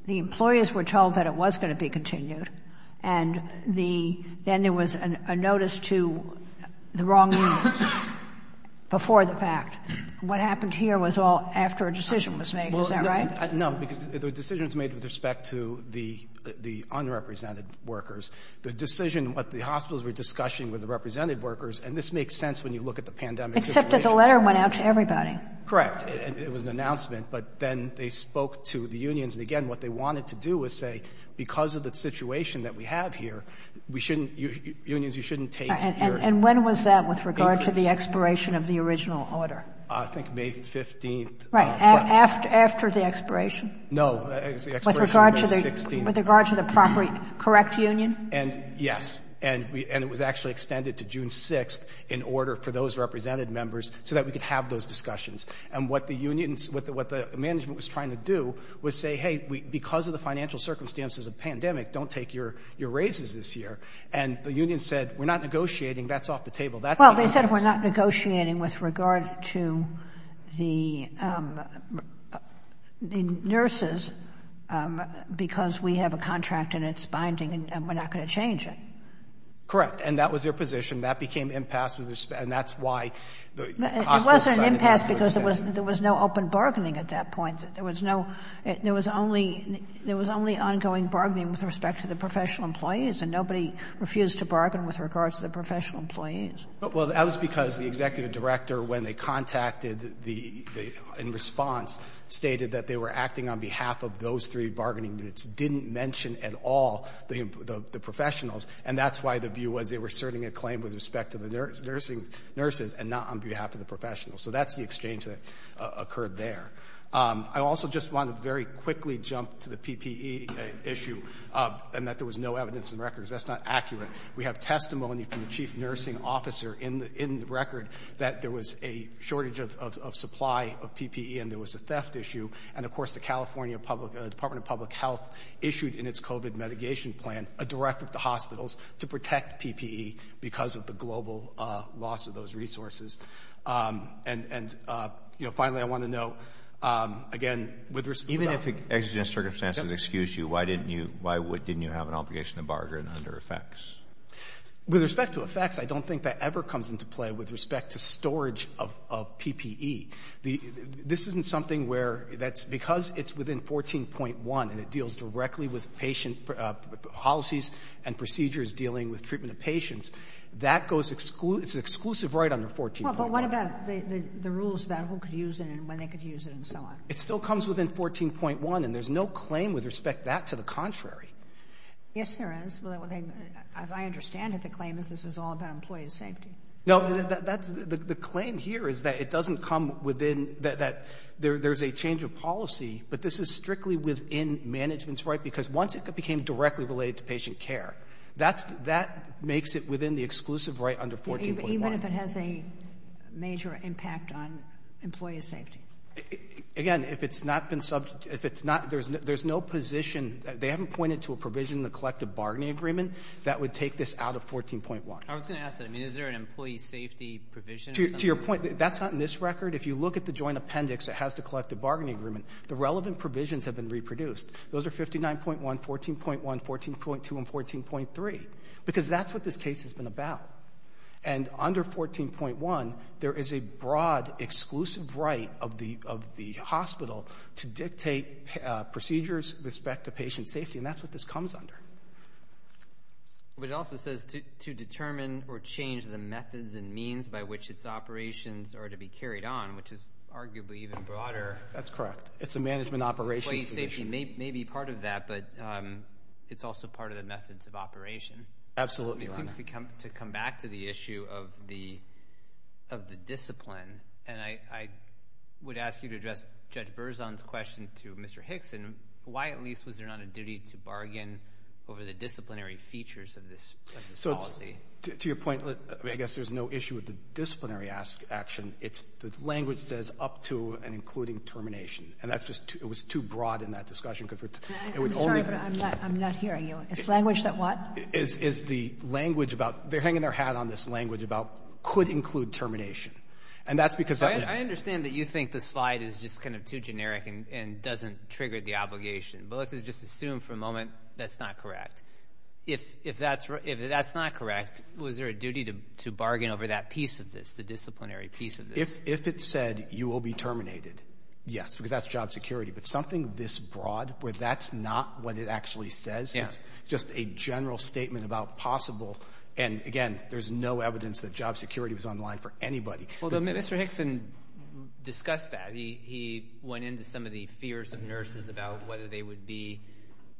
the employees were told that it was going to be continued, and then there was a notice to the wrong unions before the fact. What happened here was all after a decision was made. Is that right? No, because the decision was made with respect to the unrepresented workers. The decision, what the hospitals were discussing with the represented workers — and this makes sense when you look at the pandemic situation. Except that the letter went out to everybody. Correct. It was an announcement. But then they spoke to the unions. And, again, what they wanted to do was say, because of the situation that we have here, we shouldn't — unions, you shouldn't take your — And when was that with regard to the expiration of the original order? I think May 15th. Right. After the expiration? No. It was the expiration of May 16th. With regard to the proper — correct union? Yes. And it was actually extended to June 6th in order for those represented members so that we could have those discussions. And what the unions — what the management was trying to do was say, hey, because of the financial circumstances of the pandemic, don't take your raises this year. And the unions said, we're not negotiating. That's off the table. Well, they said we're not negotiating with regard to the nurses because we have a contract and it's binding and we're not going to change it. Correct. And that was their position. That became impasse with respect — and that's why the hospital decided to extend. It wasn't impasse because there was no open bargaining at that point. There was no — there was only — there was only ongoing bargaining with respect to the professional employees. And nobody refused to bargain with regards to the professional employees. Well, that was because the executive director, when they contacted the — in response, stated that they were acting on behalf of those three bargaining units. They just didn't mention at all the professionals. And that's why the view was they were serving a claim with respect to the nursing nurses and not on behalf of the professionals. So that's the exchange that occurred there. I also just want to very quickly jump to the PPE issue and that there was no evidence in records. That's not accurate. We have testimony from the chief nursing officer in the record that there was a shortage of supply of PPE and there was a theft issue. And, of course, the California public — Department of Public Health issued in its COVID mitigation plan a directive to hospitals to protect PPE because of the global loss of those resources. And, you know, finally, I want to note, again, with respect to — Even if exigent circumstances excuse you, why didn't you — why didn't you have an obligation to bargain under effects? With respect to effects, I don't think that ever comes into play with respect to storage of PPE. This isn't something where that's — because it's within 14.1 and it deals directly with patient policies and procedures dealing with treatment of patients, that goes — it's an exclusive right under 14.1. But what about the rules about who could use it and when they could use it and so on? It still comes within 14.1, and there's no claim with respect to that to the contrary. Yes, there is. As I understand it, the claim is this is all about employee safety. No, that's — the claim here is that it doesn't come within — that there's a change of policy, but this is strictly within management's right because once it became directly related to patient care, that makes it within the exclusive right under 14.1. Even if it has a major impact on employee safety? Again, if it's not been — if it's not — there's no position — they haven't pointed to a provision in the collective bargaining agreement that would take this out of 14.1. I was going to ask that. I mean, is there an employee safety provision or something? To your point, that's not in this record. If you look at the joint appendix that has the collective bargaining agreement, the relevant provisions have been reproduced. Those are 59.1, 14.1, 14.2, and 14.3 because that's what this case has been about. And under 14.1, there is a broad exclusive right of the hospital to dictate procedures with respect to patient safety, and that's what this comes under. But it also says to determine or change the methods and means by which its operations are to be carried on, which is arguably even broader. That's correct. It's a management operations position. Employee safety may be part of that, but it's also part of the methods of operation. Absolutely, Your Honor. It seems to come back to the issue of the discipline, and I would ask you to address Judge Berzon's question to Mr. Hickson. Why, at least, was there not a duty to bargain over the disciplinary features of this policy? To your point, I guess there's no issue with the disciplinary action. It's the language says up to and including termination, and it was too broad in that discussion. I'm sorry, but I'm not hearing you. It's language that what? It's the language about they're hanging their hat on this language about could include termination. I understand that you think the slide is just kind of too generic and doesn't trigger the obligation, but let's just assume for a moment that's not correct. If that's not correct, was there a duty to bargain over that piece of this, the disciplinary piece of this? If it said you will be terminated, yes, because that's job security. But something this broad where that's not what it actually says, it's just a general statement about possible. And, again, there's no evidence that job security was on the line for anybody. Well, Mr. Hickson discussed that. He went into some of the fears of nurses about whether they would be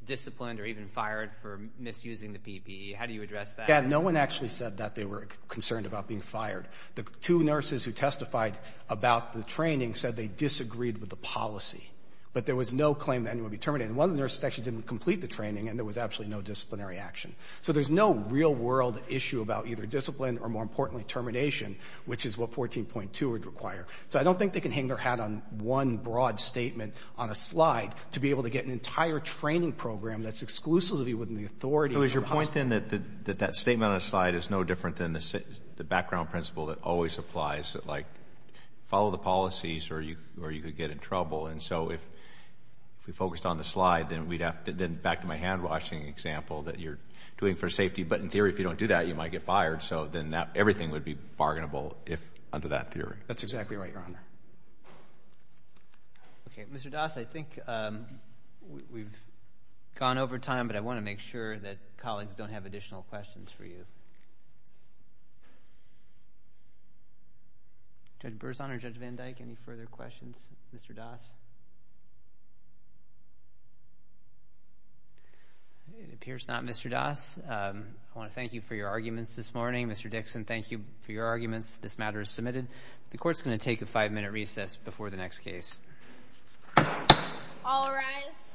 disciplined or even fired for misusing the PPE. How do you address that? No one actually said that they were concerned about being fired. The two nurses who testified about the training said they disagreed with the policy, but there was no claim that anyone would be terminated. And one of the nurses actually didn't complete the training, and there was absolutely no disciplinary action. So there's no real-world issue about either discipline or, more importantly, termination, which is what 14.2 would require. So I don't think they can hang their hat on one broad statement on a slide to be able to get an entire training program that's exclusively within the authority of the hospital. So is your point, then, that that statement on a slide is no different than the background principle that always applies, that, like, follow the policies or you could get in trouble? And so if we focused on the slide, then back to my hand-washing example that you're doing for safety. But in theory, if you don't do that, you might get fired. So then everything would be bargainable under that theory. That's exactly right, Your Honor. Okay. Mr. Das, I think we've gone over time, but I want to make sure that colleagues don't have additional questions for you. Judge Berzon or Judge Van Dyke, any further questions? Mr. Das? It appears not, Mr. Das. I want to thank you for your arguments this morning. Mr. Dixon, thank you for your arguments. This matter is submitted. The court's going to take a five-minute recess before the next case. All rise.